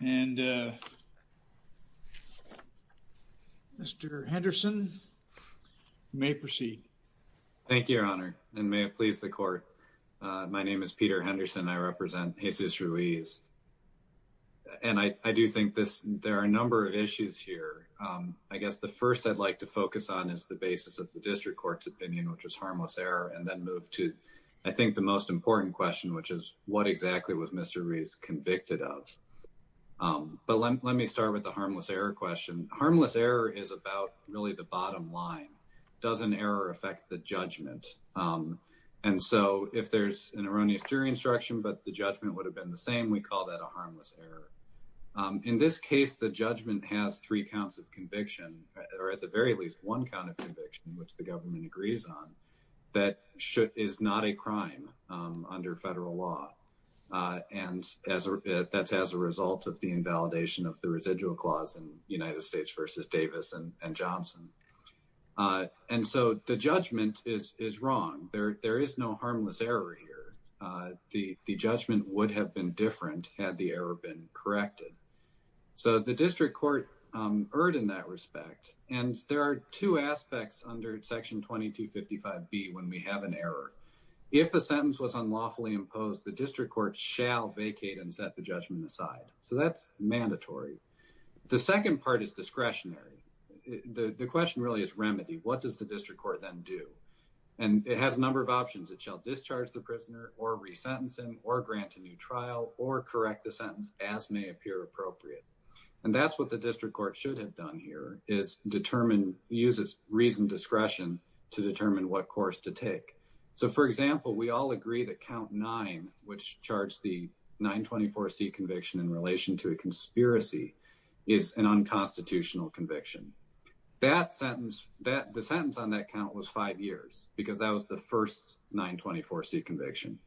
and Mr. Henderson may proceed. Thank you your honor and may it please the court my name is Peter Henderson I represent Jesus Ruiz and I do think this there are a number of issues here I guess the first I'd like to focus on is the basis of the district court's opinion which was harmless error and then move to I think the most important question which is what exactly was Mr. Ruiz convicted of but let me start with the harmless error question harmless error is about really the bottom line doesn't error affect the judgment and so if there's an erroneous jury instruction but the judgment would have been the same we call that a harmless error in this case the judgment has three counts of conviction or at the very least one count of conviction which the government agrees on that should is not a crime under federal law and as that's as a result of the invalidation of the residual clause in United States versus Davis and Johnson and so the judgment is is wrong there there is no harmless error here the the judgment would have been different had the error been corrected so the district court erred in that respect and there are two aspects under section 2255 be when we have an error if a sentence was unlawfully imposed the district court shall vacate and set the judgment aside so that's mandatory the second part is discretionary the question really is remedy what does the district court then do and it has a number of options it shall discharge the prisoner or resentencing or grant a new trial or correct the sentence as may appear appropriate and that's what the district court should have done here is determine uses reason discretion to determine what course to take so for example we all agree that count nine which charged the 924 C conviction in relation to a conspiracy is an unconstitutional conviction that sentence that the sentence on that count was five years because that was the first 924 C conviction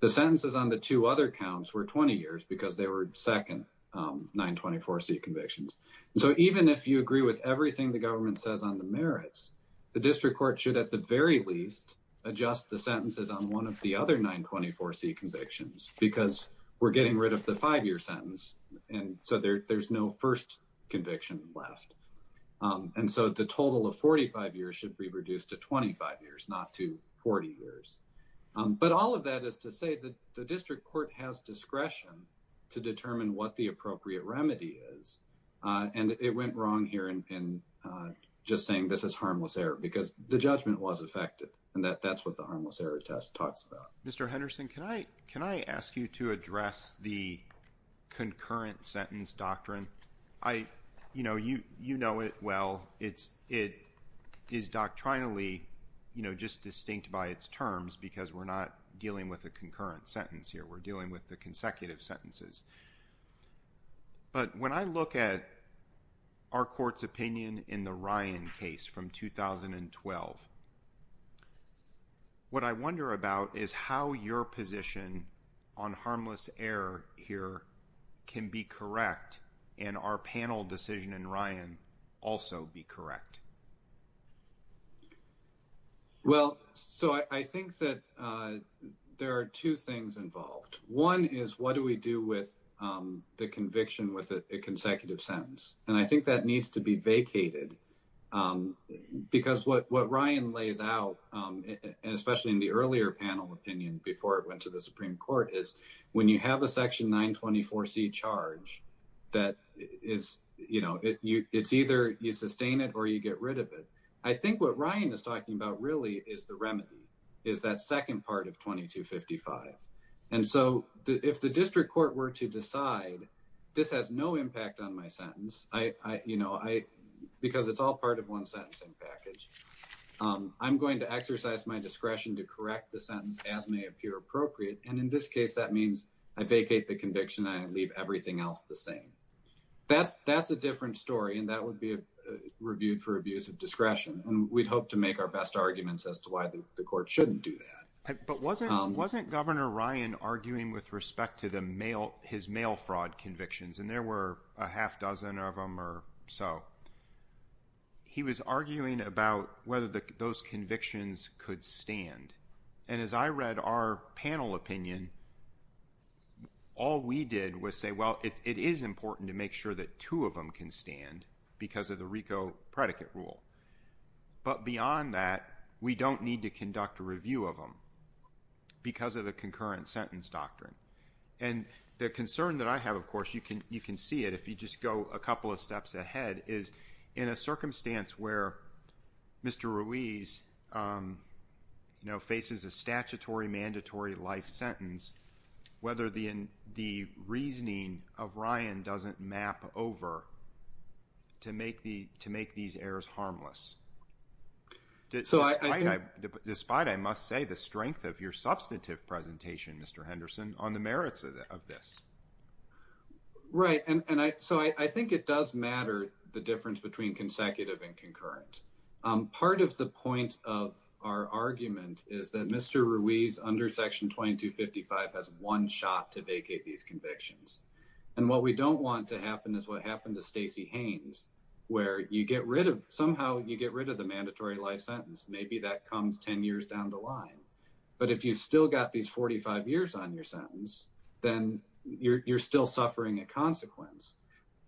the sentences on the two other counts were 20 years because they were second 924 C convictions so even if you agree with everything the government says on the merits the district court should at the very least adjust the sentences on one of the other 924 C convictions because we're getting rid of the five-year sentence and so there's no first conviction left and so the total of 45 years should be reduced to 25 years not to 40 years but all of that is to say that the district court has discretion to determine what the appropriate remedy is and it went wrong here and just saying this is harmless error because the judgment was affected and that that's what the harmless error test talks about mr. Henderson can I can I ask you to address the concurrent sentence doctrine I you know you you know it well it's it is doctrinally you know just distinct by its terms because we're not dealing with a concurrent sentence here we're dealing with the consecutive sentences but when I look at our courts opinion in the Ryan case from 2012 what I wonder about is how your position on harmless error here can be correct and our panel decision in Ryan also be correct well so I think that there are two things involved one is what do we do with the conviction with a consecutive sentence and I think that needs to be vacated because what Ryan lays out especially in the earlier panel opinion before it went to the that is you know it's either you sustain it or you get rid of it I think what Ryan is talking about really is the remedy is that second part of 2255 and so if the district court were to decide this has no impact on my sentence I you know I because it's all part of one sentencing package I'm going to exercise my discretion to correct the sentence as may appear appropriate and in this case that means I vacate the conviction I leave everything else the same that's that's a different story and that would be reviewed for abuse of discretion and we'd hope to make our best arguments as to why the court shouldn't do that but wasn't wasn't governor Ryan arguing with respect to the mail his mail fraud convictions and there were a half dozen of them or so he was all we did was say well it is important to make sure that two of them can stand because of the Rico predicate rule but beyond that we don't need to conduct a review of them because of the concurrent sentence doctrine and the concern that I have of course you can you can see it if you just go a couple of steps ahead is in a circumstance where mr. Ruiz you know faces a statutory mandatory life sentence whether the in the reasoning of Ryan doesn't map over to make the to make these errors harmless so I despite I must say the strength of your substantive presentation mr. Henderson on the merits of this right and I so I think it does matter the difference between consecutive and concurrent part of the point of our argument is that mr. Ruiz under section 2255 has one shot to vacate these convictions and what we don't want to happen is what happened to Stacey Haynes where you get rid of somehow you get rid of the mandatory life sentence maybe that comes 10 years down the line but if you still got these 45 years on your sentence then you're still suffering a consequence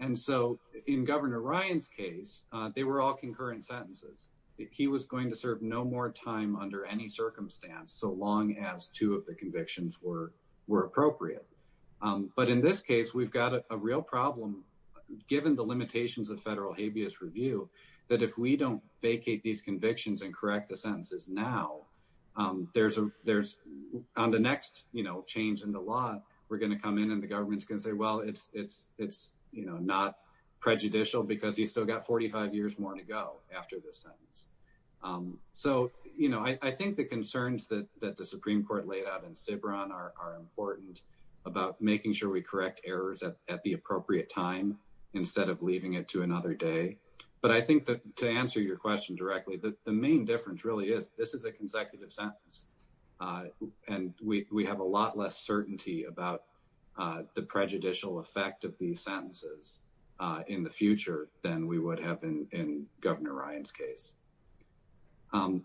and so in governor Ryan's case they were all the convictions were were appropriate but in this case we've got a real problem given the limitations of federal habeas review that if we don't vacate these convictions and correct the sentences now there's a there's on the next you know change in the law we're gonna come in and the government's gonna say well it's it's it's you know not prejudicial because he's still got 45 years more to go after this sentence so you know I think the concerns that that the Supreme Court laid out in Ciberon are important about making sure we correct errors at the appropriate time instead of leaving it to another day but I think that to answer your question directly that the main difference really is this is a consecutive sentence and we have a lot less certainty about the prejudicial effect of these sentences in the future than we would have been in governor Ryan's case on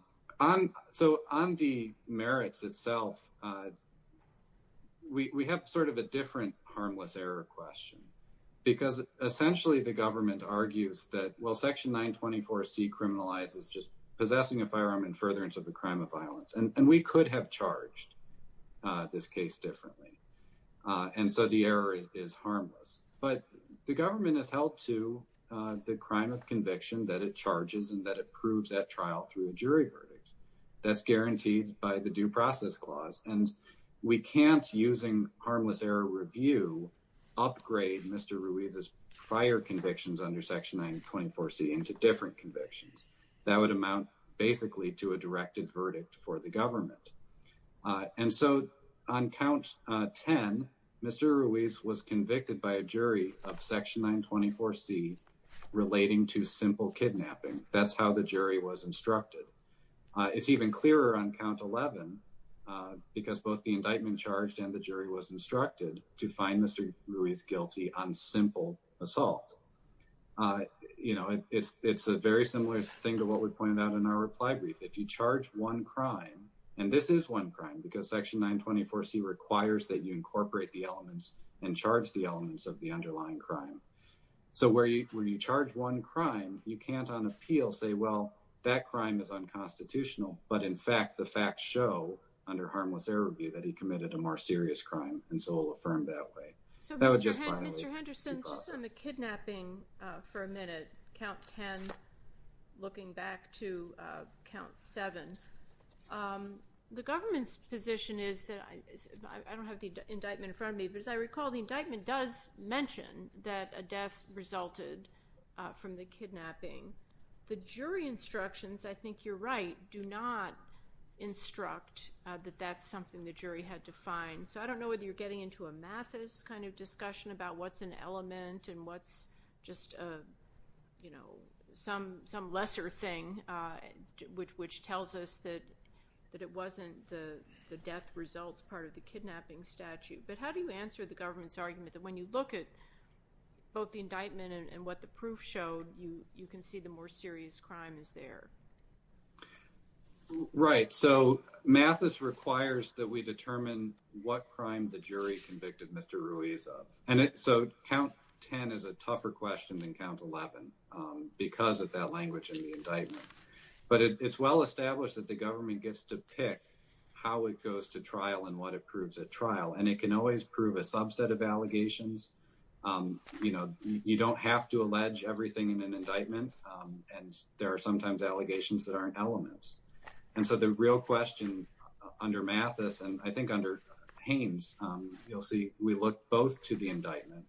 so on the merits itself we have sort of a different harmless error question because essentially the government argues that well section 924 C criminalizes just possessing a firearm and furtherance of the crime of violence and we could have charged this case differently and so the error is harmless but the government has helped to the crime of conviction that it charges and that approves that trial through a jury verdict that's guaranteed by the due process clause and we can't using harmless error review upgrade mr. Ruiz's prior convictions under section 924 C into different convictions that would amount basically to a directed verdict for the government and so on count 10 mr. Ruiz was convicted by a jury of section 924 C relating to simple kidnapping that's how the jury was instructed it's even clearer on count 11 because both the indictment charged and the jury was instructed to find mr. Ruiz guilty on simple assault you know it's it's a very similar thing to what we pointed out in our reply brief if you charge one crime and this is one crime because section 924 C requires that you incorporate the elements and charge the elements of the underlying crime so where you charge one crime you can't on appeal say well that crime is unconstitutional but in fact the facts show under harmless error view that he committed a more serious crime and so I'll affirm that way. So Mr. Henderson just on the kidnapping for a minute count 10 looking back to count 7 the government's position is that I don't have the indictment in front of me but as I recall the indictment does mention that a death resulted from the kidnapping the jury instructions I think you're right do not instruct that that's something the jury had to find so I don't know whether you're getting into a Mathis kind of discussion about what's an element and what's just a you know some some lesser thing which which tells us that that it wasn't the the death results part of the kidnapping statute but how do you answer the government's argument that when you look at both the indictment and what the proof showed you you can see the more serious crime is there. Right so Mathis requires that we determine what crime the so count 10 is a tougher question than count 11 because of that language in the indictment but it's well established that the government gets to pick how it goes to trial and what it proves at trial and it can always prove a subset of allegations you know you don't have to allege everything in an indictment and there are sometimes allegations that aren't elements and so the real question under Mathis and I think under Haynes you'll see we look both to the indictment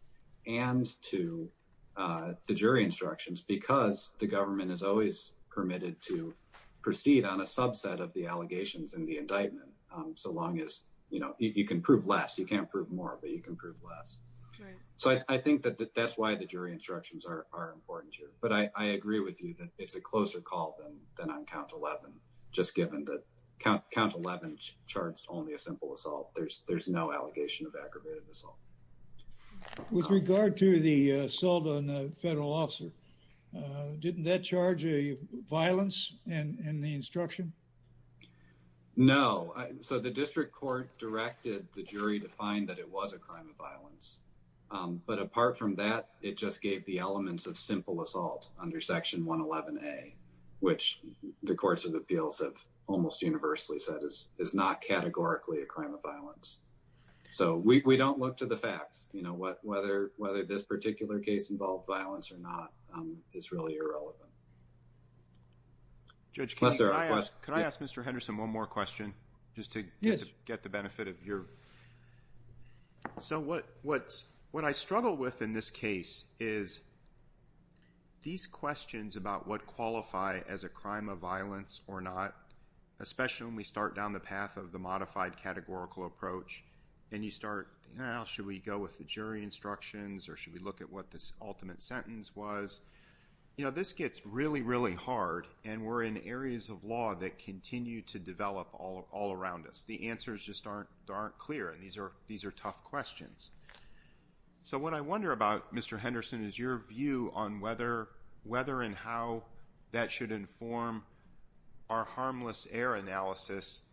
and to the jury instructions because the government is always permitted to proceed on a subset of the allegations in the indictment so long as you know you can prove less you can't prove more but you can prove less so I think that that's why the jury instructions are important here but I agree with you that it's a closer call than on count 11 just given that count 11 charged only a simple assault there's there's no allegation of aggravated assault. With regard to the assault on a federal officer didn't that charge a violence in the instruction? No so the district court directed the jury to find that it was a crime of violence but apart from that it just gave the elements of simple assault under section 111a which the courts of appeals have almost universally said is is not categorically a crime of violence so we don't look to the facts you know what whether whether this particular case involved violence or not is really irrelevant. Judge can I ask Mr. Henderson one more question just to get the benefit of your so what what's what I struggle with in this case is these questions about what qualify as a crime of violence or not especially when we start down the path of the modified categorical approach and you start now should we go with the jury instructions or should we look at what this ultimate sentence was you know this gets really really hard and we're in all around us the answers just aren't aren't clear and these are these are tough questions so what I wonder about Mr. Henderson is your view on whether whether and how that should inform our harmless error analysis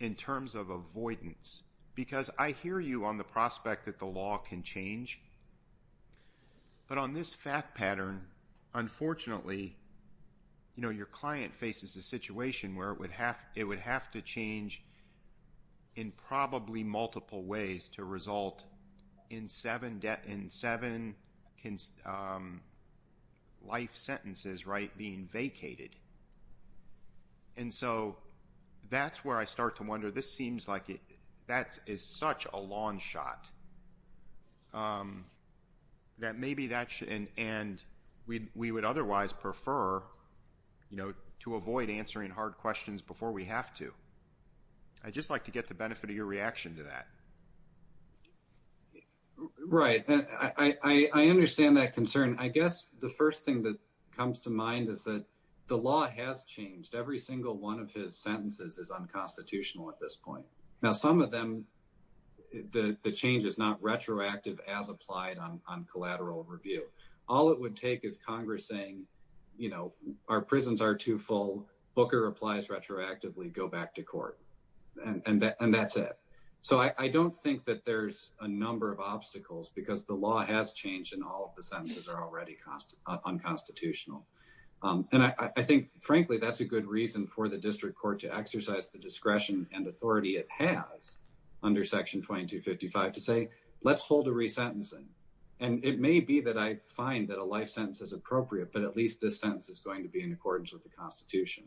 in terms of avoidance because I hear you on the prospect that the law can change but on this fact pattern unfortunately you know your client faces a situation where it would have it would have to change in probably multiple ways to result in seven debt in seven can life sentences right being vacated and so that's where I start to wonder this seems like it that is such a long shot that maybe that should and we would otherwise prefer you know to avoid answering hard questions before we have to I just like to get the benefit of your reaction to that right I I understand that concern I guess the first thing that comes to mind is that the law has changed every single one of his sentences is unconstitutional at this point now some of them the the change is not retroactive as applied on on collateral review all it would take is congress saying you know our prisons are too full booker applies retroactively go back to court and and that's it so I I don't think that there's a number of obstacles because the law has changed and all of the sentences are already cost unconstitutional um and I I think frankly that's a good reason for the district court to exercise the discretion and authority it has under section 2255 to say let's hold a re-sentencing and it may be that I find that a life sentence is appropriate but at least this sentence is going to be in accordance with the constitution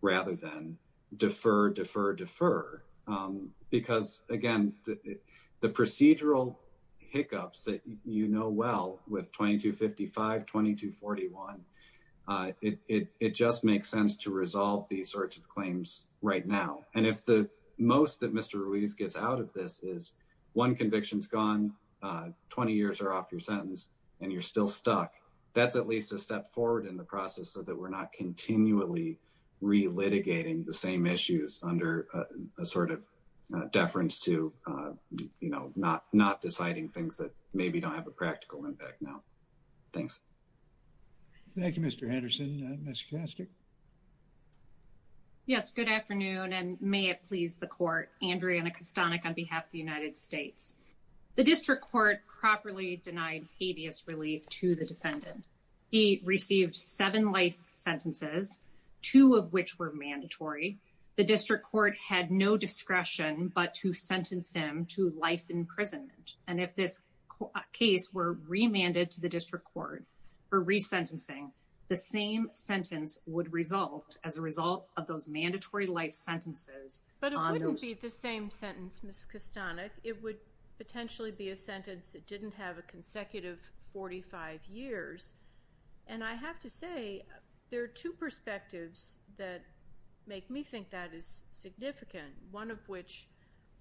rather than defer defer defer because again the procedural hiccups that you know well with 2255 2241 uh it it just makes sense to resolve these sorts of claims right now and if the most that Mr. Ruiz gets out of this is one conviction's gone uh 20 years are off your sentence and you're still stuck that's at least a step forward in the process so that we're not continually re-litigating the same issues under a sort of uh deference to uh you know not not deciding things that maybe don't have a practical impact now thanks thank you Mr. Good afternoon and may it please the court. Andriana Kostanek on behalf of the United States. The district court properly denied habeas relief to the defendant. He received seven life sentences two of which were mandatory. The district court had no discretion but to sentence him to life imprisonment and if this case were remanded to the district court for re-sentencing the same sentence would result as a result of those mandatory life sentences. But it wouldn't be the same sentence Ms. Kostanek. It would potentially be a sentence that didn't have a consecutive 45 years and I have to say there are two perspectives that make me think that is significant one of which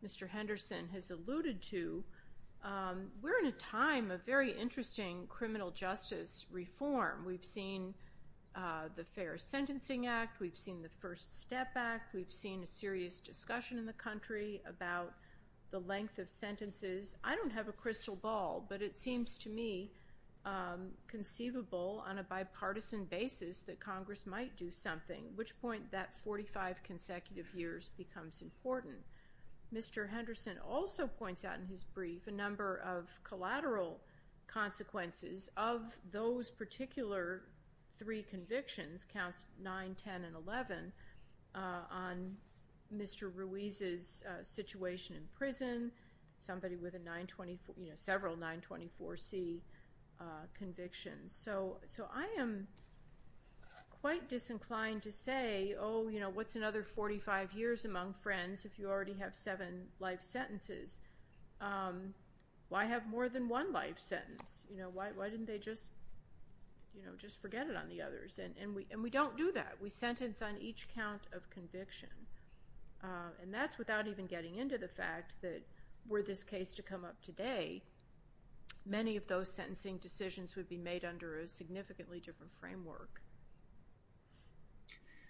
Mr. Henderson has alluded to um we're in a time of very interesting criminal justice reform. We've seen uh the Fair Sentencing Act. We've seen the First Step Act. We've seen a serious discussion in the country about the length of sentences. I don't have a crystal ball but it seems to me um conceivable on a bipartisan basis that Congress might do something which point that 45 consecutive years becomes important. Mr. Henderson also points out in his brief a number of collateral consequences of those particular three convictions counts 9, 10, and 11 on Mr. Ruiz's situation in prison. Somebody with a 924 you know several 924c uh convictions. So I am quite disinclined to say oh you know what's another 45 years among friends if you already have seven life sentences um why have more than one life sentence? You know why why didn't they just you know just forget it on the others and and we and we don't do that. We sentence on each count of conviction uh and that's without even getting into the fact that were this case to come up today many of those sentencing decisions would be made under a significantly different framework.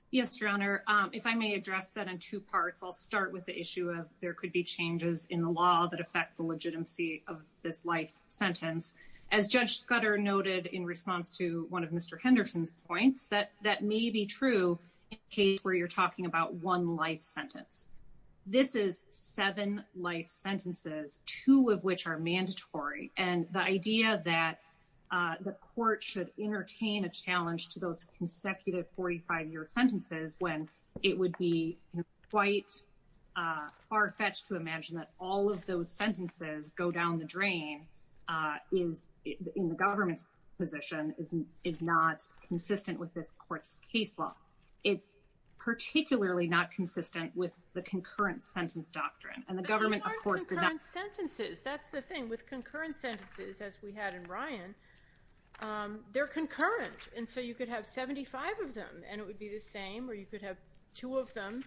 Yes your honor um if I may address that in two parts I'll start with the issue of there could be changes in the law that affect the legitimacy of this life sentence. As Judge Scudder noted in response to one of Mr. Henderson's points that that may be true in case where you're talking about one life sentence. This is seven life sentences two of which are mandatory and the idea that uh the court should entertain a challenge to those consecutive 45 year sentences when it would be quite uh far-fetched to imagine that all of those sentences go down the drain uh is in the government's position is is not consistent with this court's case law. It's particularly not consistent with the concurrent sentence doctrine and the thing with concurrent sentences as we had in Ryan um they're concurrent and so you could have 75 of them and it would be the same or you could have two of them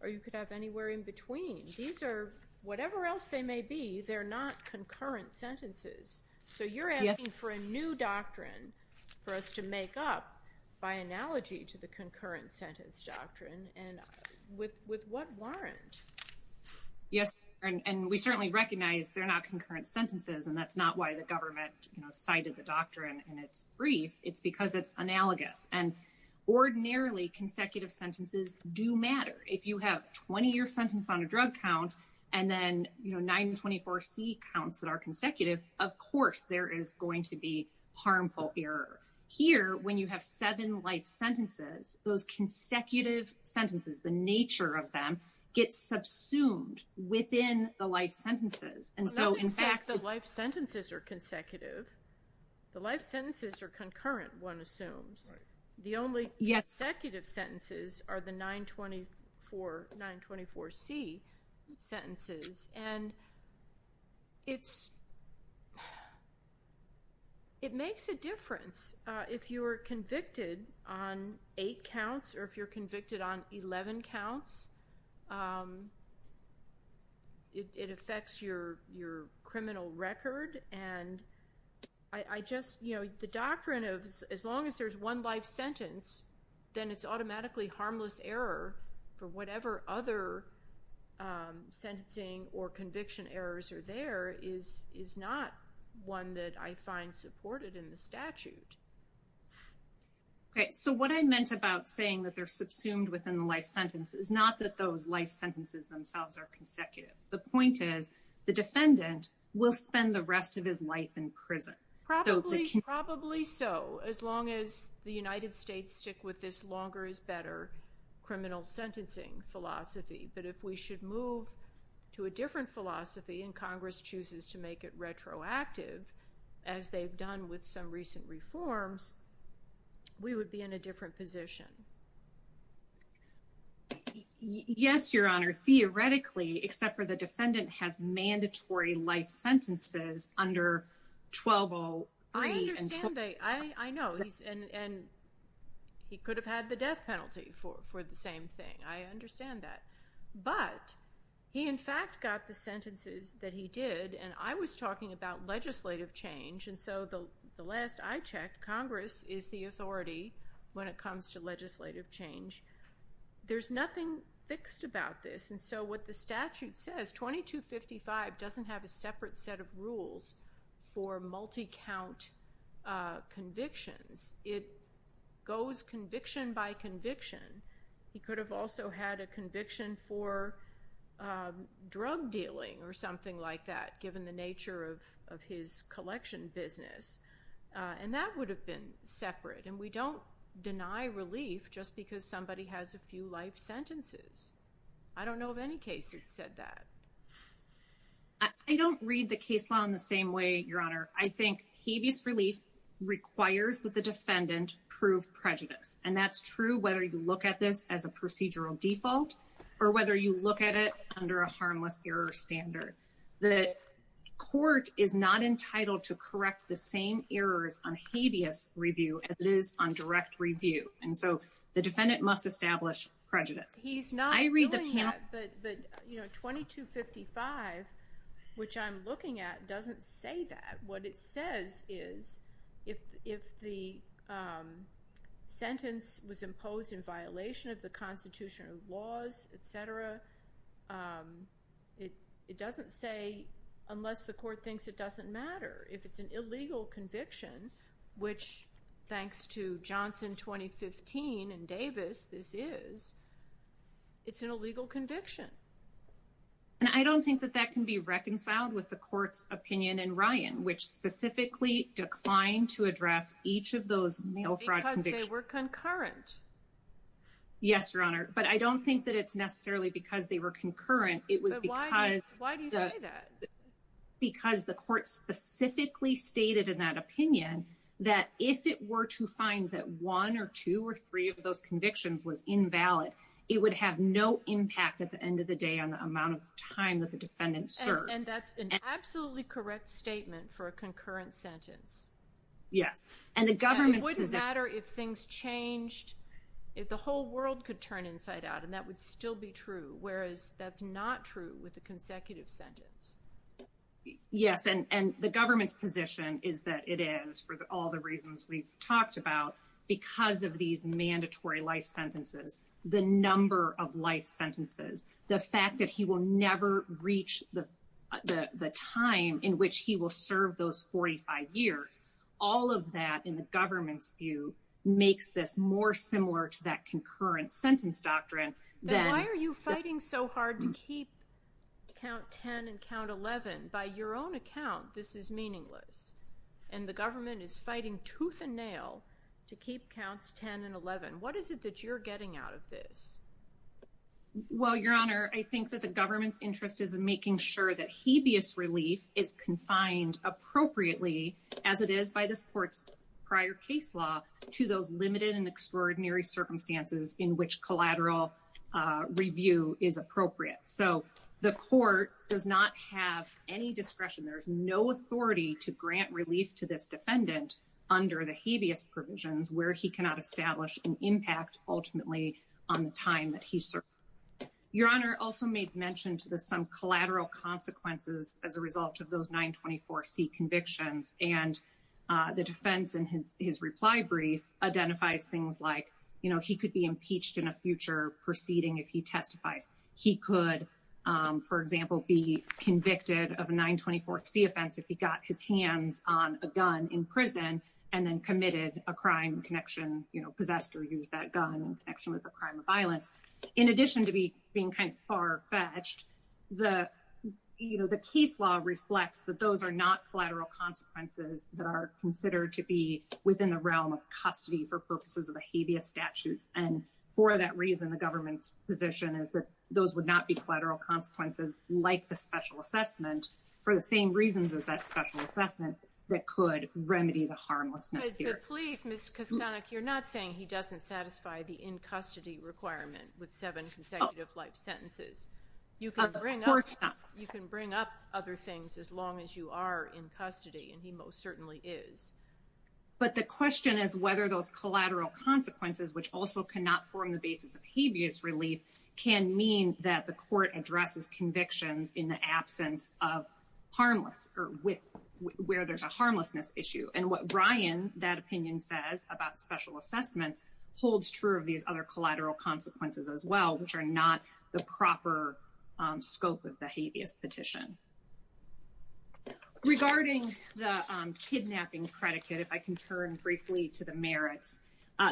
or you could have anywhere in between these are whatever else they may be they're not concurrent sentences so you're asking for a new doctrine for us to make up by analogy to the concurrent sentence doctrine and with with what we've learned. Yes and we certainly recognize they're not concurrent sentences and that's not why the government you know cited the doctrine and it's brief it's because it's analogous and ordinarily consecutive sentences do matter if you have 20 year sentence on a drug count and then you know 924c counts that are consecutive of course there is going to be harmful error here when you have seven life sentences those consecutive sentences the nature of them gets subsumed within the life sentences and so in fact the life sentences are consecutive the life sentences are concurrent one assumes the only consecutive sentences are the 924 924c sentences and it's it makes a difference uh if you are convicted on eight counts or if you're convicted on 11 counts um it affects your your criminal record and I just you know the doctrine of as long as there's one life sentence then it's automatically harmless error for whatever other um sentencing or conviction errors are there is is not one that I find supported in the statute. Okay so what I meant about saying that they're subsumed within the life sentence is not that those life sentences themselves are consecutive the point is the defendant will spend the rest of his life in prison. Probably probably so as long as the United States stick with this longer is better criminal sentencing philosophy but if we should move to a different philosophy and Congress chooses to make it retroactive as they've done with some recent reforms we would be in a different position. Yes your honor theoretically except for the defendant has mandatory life sentences under 1203. I understand they I I know he's and and he could have had the death penalty for for the same thing I understand that but he in fact got the sentences that he did and I was talking about legislative change and so the the last I checked Congress is the authority when it comes to legislative change there's nothing fixed about this and so what the statute says 2255 doesn't have a separate set of rules for multi-count convictions it goes conviction by conviction he could have also had a conviction for drug dealing or something like that given the nature of of his collection business and that would have been separate and we don't deny relief just because somebody has a few life sentences I don't know of any case it said that I don't read the case law in the same way your honor I think habeas relief requires that the defendant prove prejudice and that's true whether you look at this as a procedural default or whether you look at it under a harmless error standard the court is not entitled to correct the same errors on habeas review as it is on direct review and so the defendant must establish prejudice he's not I read the but but you know 2255 which I'm looking at doesn't say that what it says is if if the sentence was imposed in violation of the constitutional laws etc it it doesn't say unless the court thinks it doesn't matter if it's an illegal conviction which thanks to Johnson 2015 and Davis this is it's an illegal conviction and I don't think that that can be reconciled with the court's opinion and Ryan which specifically declined to address each of those mail fraud because they were concurrent yes your honor but I don't think that it's necessarily because they were concurrent it was because why do you say that because the court specifically stated in that opinion that if it were to find that one or two or three of those convictions was invalid it would have no impact at the end of the day on the amount of time that the defendant served and that's an absolutely correct statement for a concurrent sentence yes and the government wouldn't matter if things changed if the whole world could turn inside out and that would still be true whereas that's not true with the consecutive sentence yes and and the government's position is that it is for all the reasons we've talked about because of these mandatory life sentences the number of life sentences the fact that he will never reach the the the time in which he will serve those 45 years all of that in the government's view makes this more similar to that concurrent sentence doctrine then why are you fighting so hard to keep count 10 and count 11 by your own account this is meaningless and the government is fighting tooth and nail to keep counts 10 and 11 what is it that you're getting out of this well your honor I think that the government's interest is in making sure that habeas relief is confined appropriately as it is by this court's prior case law to those limited and extraordinary circumstances in which collateral review is appropriate so the court does not have any discretion there is no authority to grant relief to this defendant under the habeas provisions where he cannot establish an impact ultimately on the time that he served your honor also made mention to the some collateral consequences as a result of those 924c convictions and the defense in his reply brief identifies things like you know he could be impeached in a future proceeding if he testifies he could for example be convicted of a 924c offense if he got his hands on a gun in prison and then committed a crime connection you know possessed or used that gun in connection with a crime of violence in addition to be being kind of far-fetched the you know the case law reflects that those are not collateral consequences that are considered to be within the realm of custody for purposes of the habeas statutes and for that reason the government's position is that those would not be collateral consequences like the special assessment for the same reasons as that special assessment that could remedy the harmlessness here please miss kistanak you're custody requirement with seven consecutive life sentences you can bring up you can bring up other things as long as you are in custody and he most certainly is but the question is whether those collateral consequences which also cannot form the basis of habeas relief can mean that the court addresses convictions in the absence of harmless or with where there's a harmlessness issue and brian that opinion says about special assessments holds true of these other collateral consequences as well which are not the proper scope of the habeas petition regarding the kidnapping predicate if i can turn briefly to the merits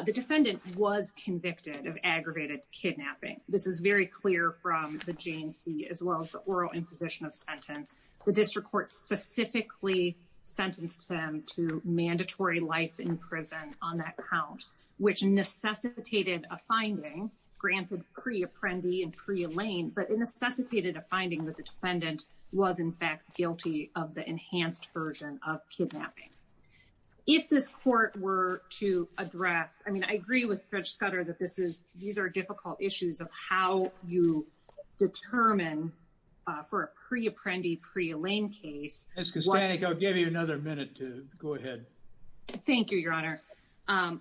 the defendant was convicted of aggravated kidnapping this is very clear from the jc as well as the oral imposition of sentence the district court specifically sentenced them to mandatory life in prison on that count which necessitated a finding granted pre-apprendee and pre-elaine but it necessitated a finding that the defendant was in fact guilty of the enhanced version of kidnapping if this court were to address i mean i agree with dredge scudder that this is these are difficult issues of how you determine for a pre-apprendee pre-elaine case i'll give you another minute to go ahead thank you your honor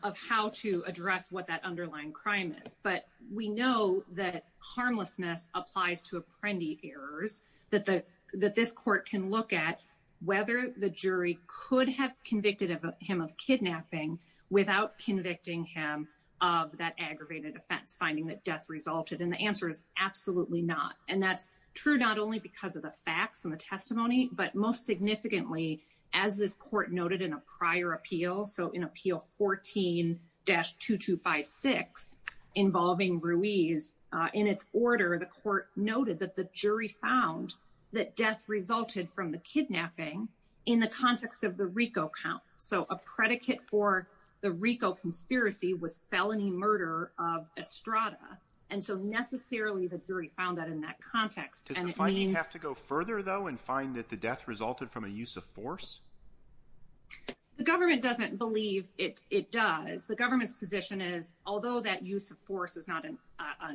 of how to address what that underlying crime is but we know that harmlessness applies to apprendee errors that the that this court can look at whether the jury could have convicted of him of kidnapping without convicting him of that aggravated offense finding that death resulted and the answer is absolutely not and that's true not only because of the facts and the testimony but most significantly as this court noted in a prior appeal so in appeal 14 dash 2256 involving ruiz in its order the court noted that the jury found that death resulted from the kidnapping in the context of the rico count so a predicate for the rico conspiracy was felony murder of estrada and so necessarily the jury found that in that context and it means have to go further though and find that the death resulted from a use of force the government doesn't believe it it does the government's position is although that use of force is not an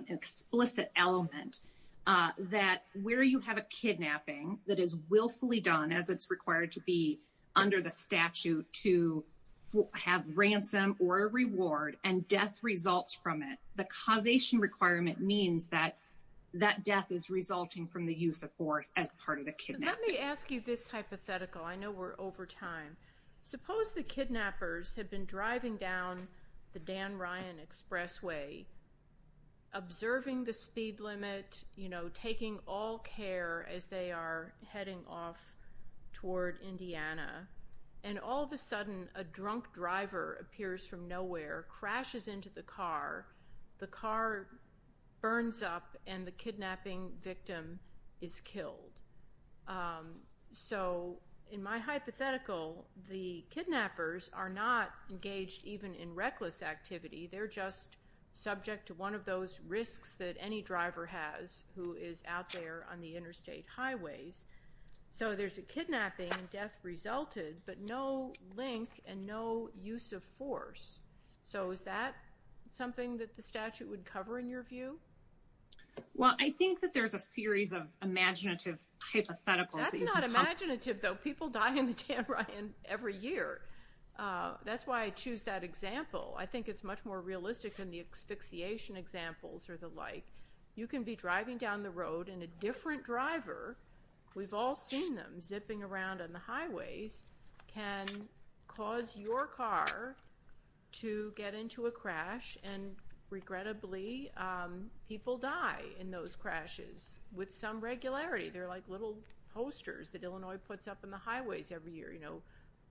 explicit element uh that where you have a kidnapping that is willfully done as it's ransom or a reward and death results from it the causation requirement means that that death is resulting from the use of force as part of the kidnapping let me ask you this hypothetical i know we're over time suppose the kidnappers have been driving down the dan ryan expressway observing the speed limit you know taking all care as they are heading off toward indiana and all of a sudden a drunk driver appears from nowhere crashes into the car the car burns up and the kidnapping victim is killed so in my hypothetical the kidnappers are not engaged even in reckless activity they're just subject to one of those risks that any driver has who is out there on the interstate highways so there's a kidnapping death resulted but no link and no use of force so is that something that the statute would cover in your view well i think that there's a series of imaginative hypotheticals that's not imaginative though people die in the tan right and every year uh that's why i choose that example i think it's more realistic than the asphyxiation examples or the like you can be driving down the road and a different driver we've all seen them zipping around on the highways can cause your car to get into a crash and regrettably um people die in those crashes with some regularity they're like little posters that illinois puts up in the highways every year you know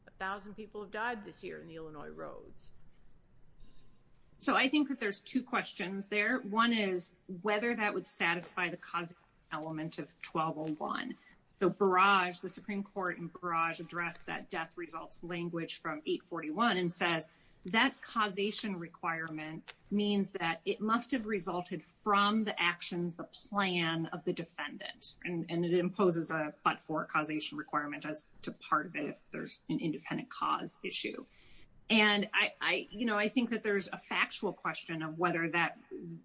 a thousand people died this year in the illinois roads so i think that there's two questions there one is whether that would satisfy the cause element of 1201 the barrage the supreme court and barrage addressed that death results language from 841 and says that causation requirement means that it must have resulted from the actions the plan of the defendant and and it imposes a but for causation requirement as to part of it if there's an independent cause issue and i i you know i think that there's a factual question of whether that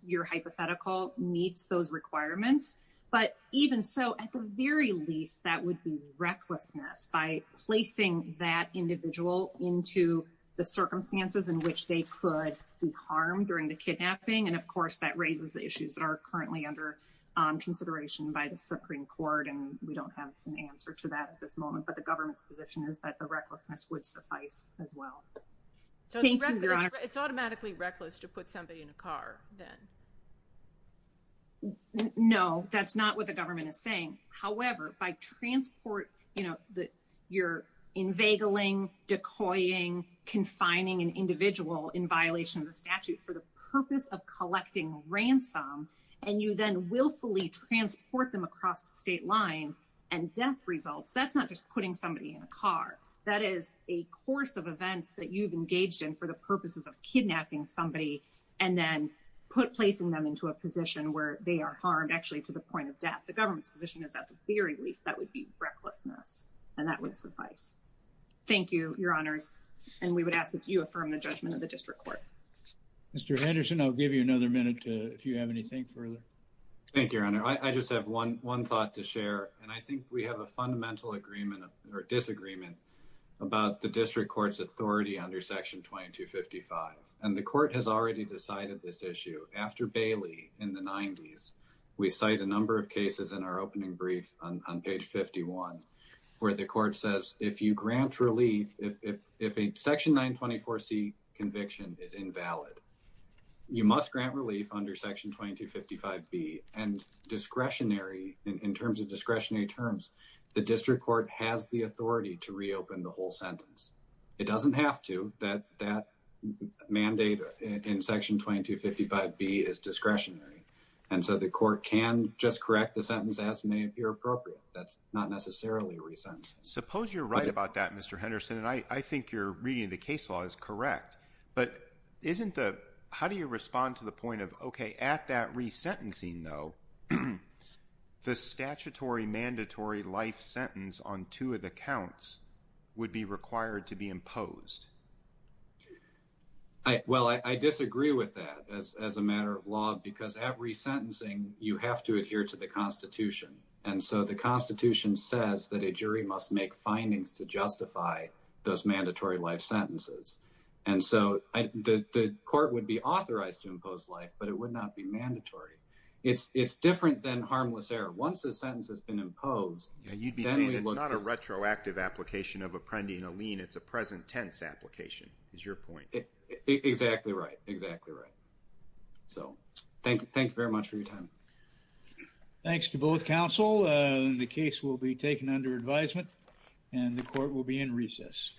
your hypothetical meets those requirements but even so at the very least that would be recklessness by placing that individual into the circumstances in which they could do harm during the kidnapping and of course that raises the issues that are currently under consideration by the supreme court and we don't have an answer to that at this moment but the government's position is that the recklessness would suffice as well so it's automatically reckless to put somebody in a car then no that's not what the government is saying however by transport you know that you're inveigling decoying confining an individual in violation of the statute for the purpose of somebody in a car that is a course of events that you've engaged in for the purposes of kidnapping somebody and then put placing them into a position where they are harmed actually to the point of death the government's position is at the very least that would be recklessness and that would suffice thank you your honors and we would ask that you affirm the judgment of the district court mr henderson i'll give you another minute to if you have anything further thank you your honor i just have one one thought to share and i think we have a fundamental agreement or disagreement about the district court's authority under section 2255 and the court has already decided this issue after bailey in the 90s we cite a number of cases in our opening brief on page 51 where the court says if you grant relief if if if a section 924 c and discretionary in terms of discretionary terms the district court has the authority to reopen the whole sentence it doesn't have to that that mandate in section 2255 b is discretionary and so the court can just correct the sentence as may appear appropriate that's not necessarily resent suppose you're right about that mr henderson and i i think you're reading the case law is correct but isn't the how do you respond to the point of okay at that resentencing though the statutory mandatory life sentence on two of the counts would be required to be imposed i well i disagree with that as as a matter of law because at resentencing you have to adhere to the constitution and so the constitution says that a jury must make findings to justify those mandatory life sentences and so i the the court would be authorized to impose life but it would not be mandatory it's it's different than harmless error once the sentence has been imposed yeah you'd be saying it's not a retroactive application of apprending a lien it's a present tense application is your point exactly right exactly right so thank you thank you very much for your time thanks to both counsel uh the case will be taken under advisement and the court will be in recess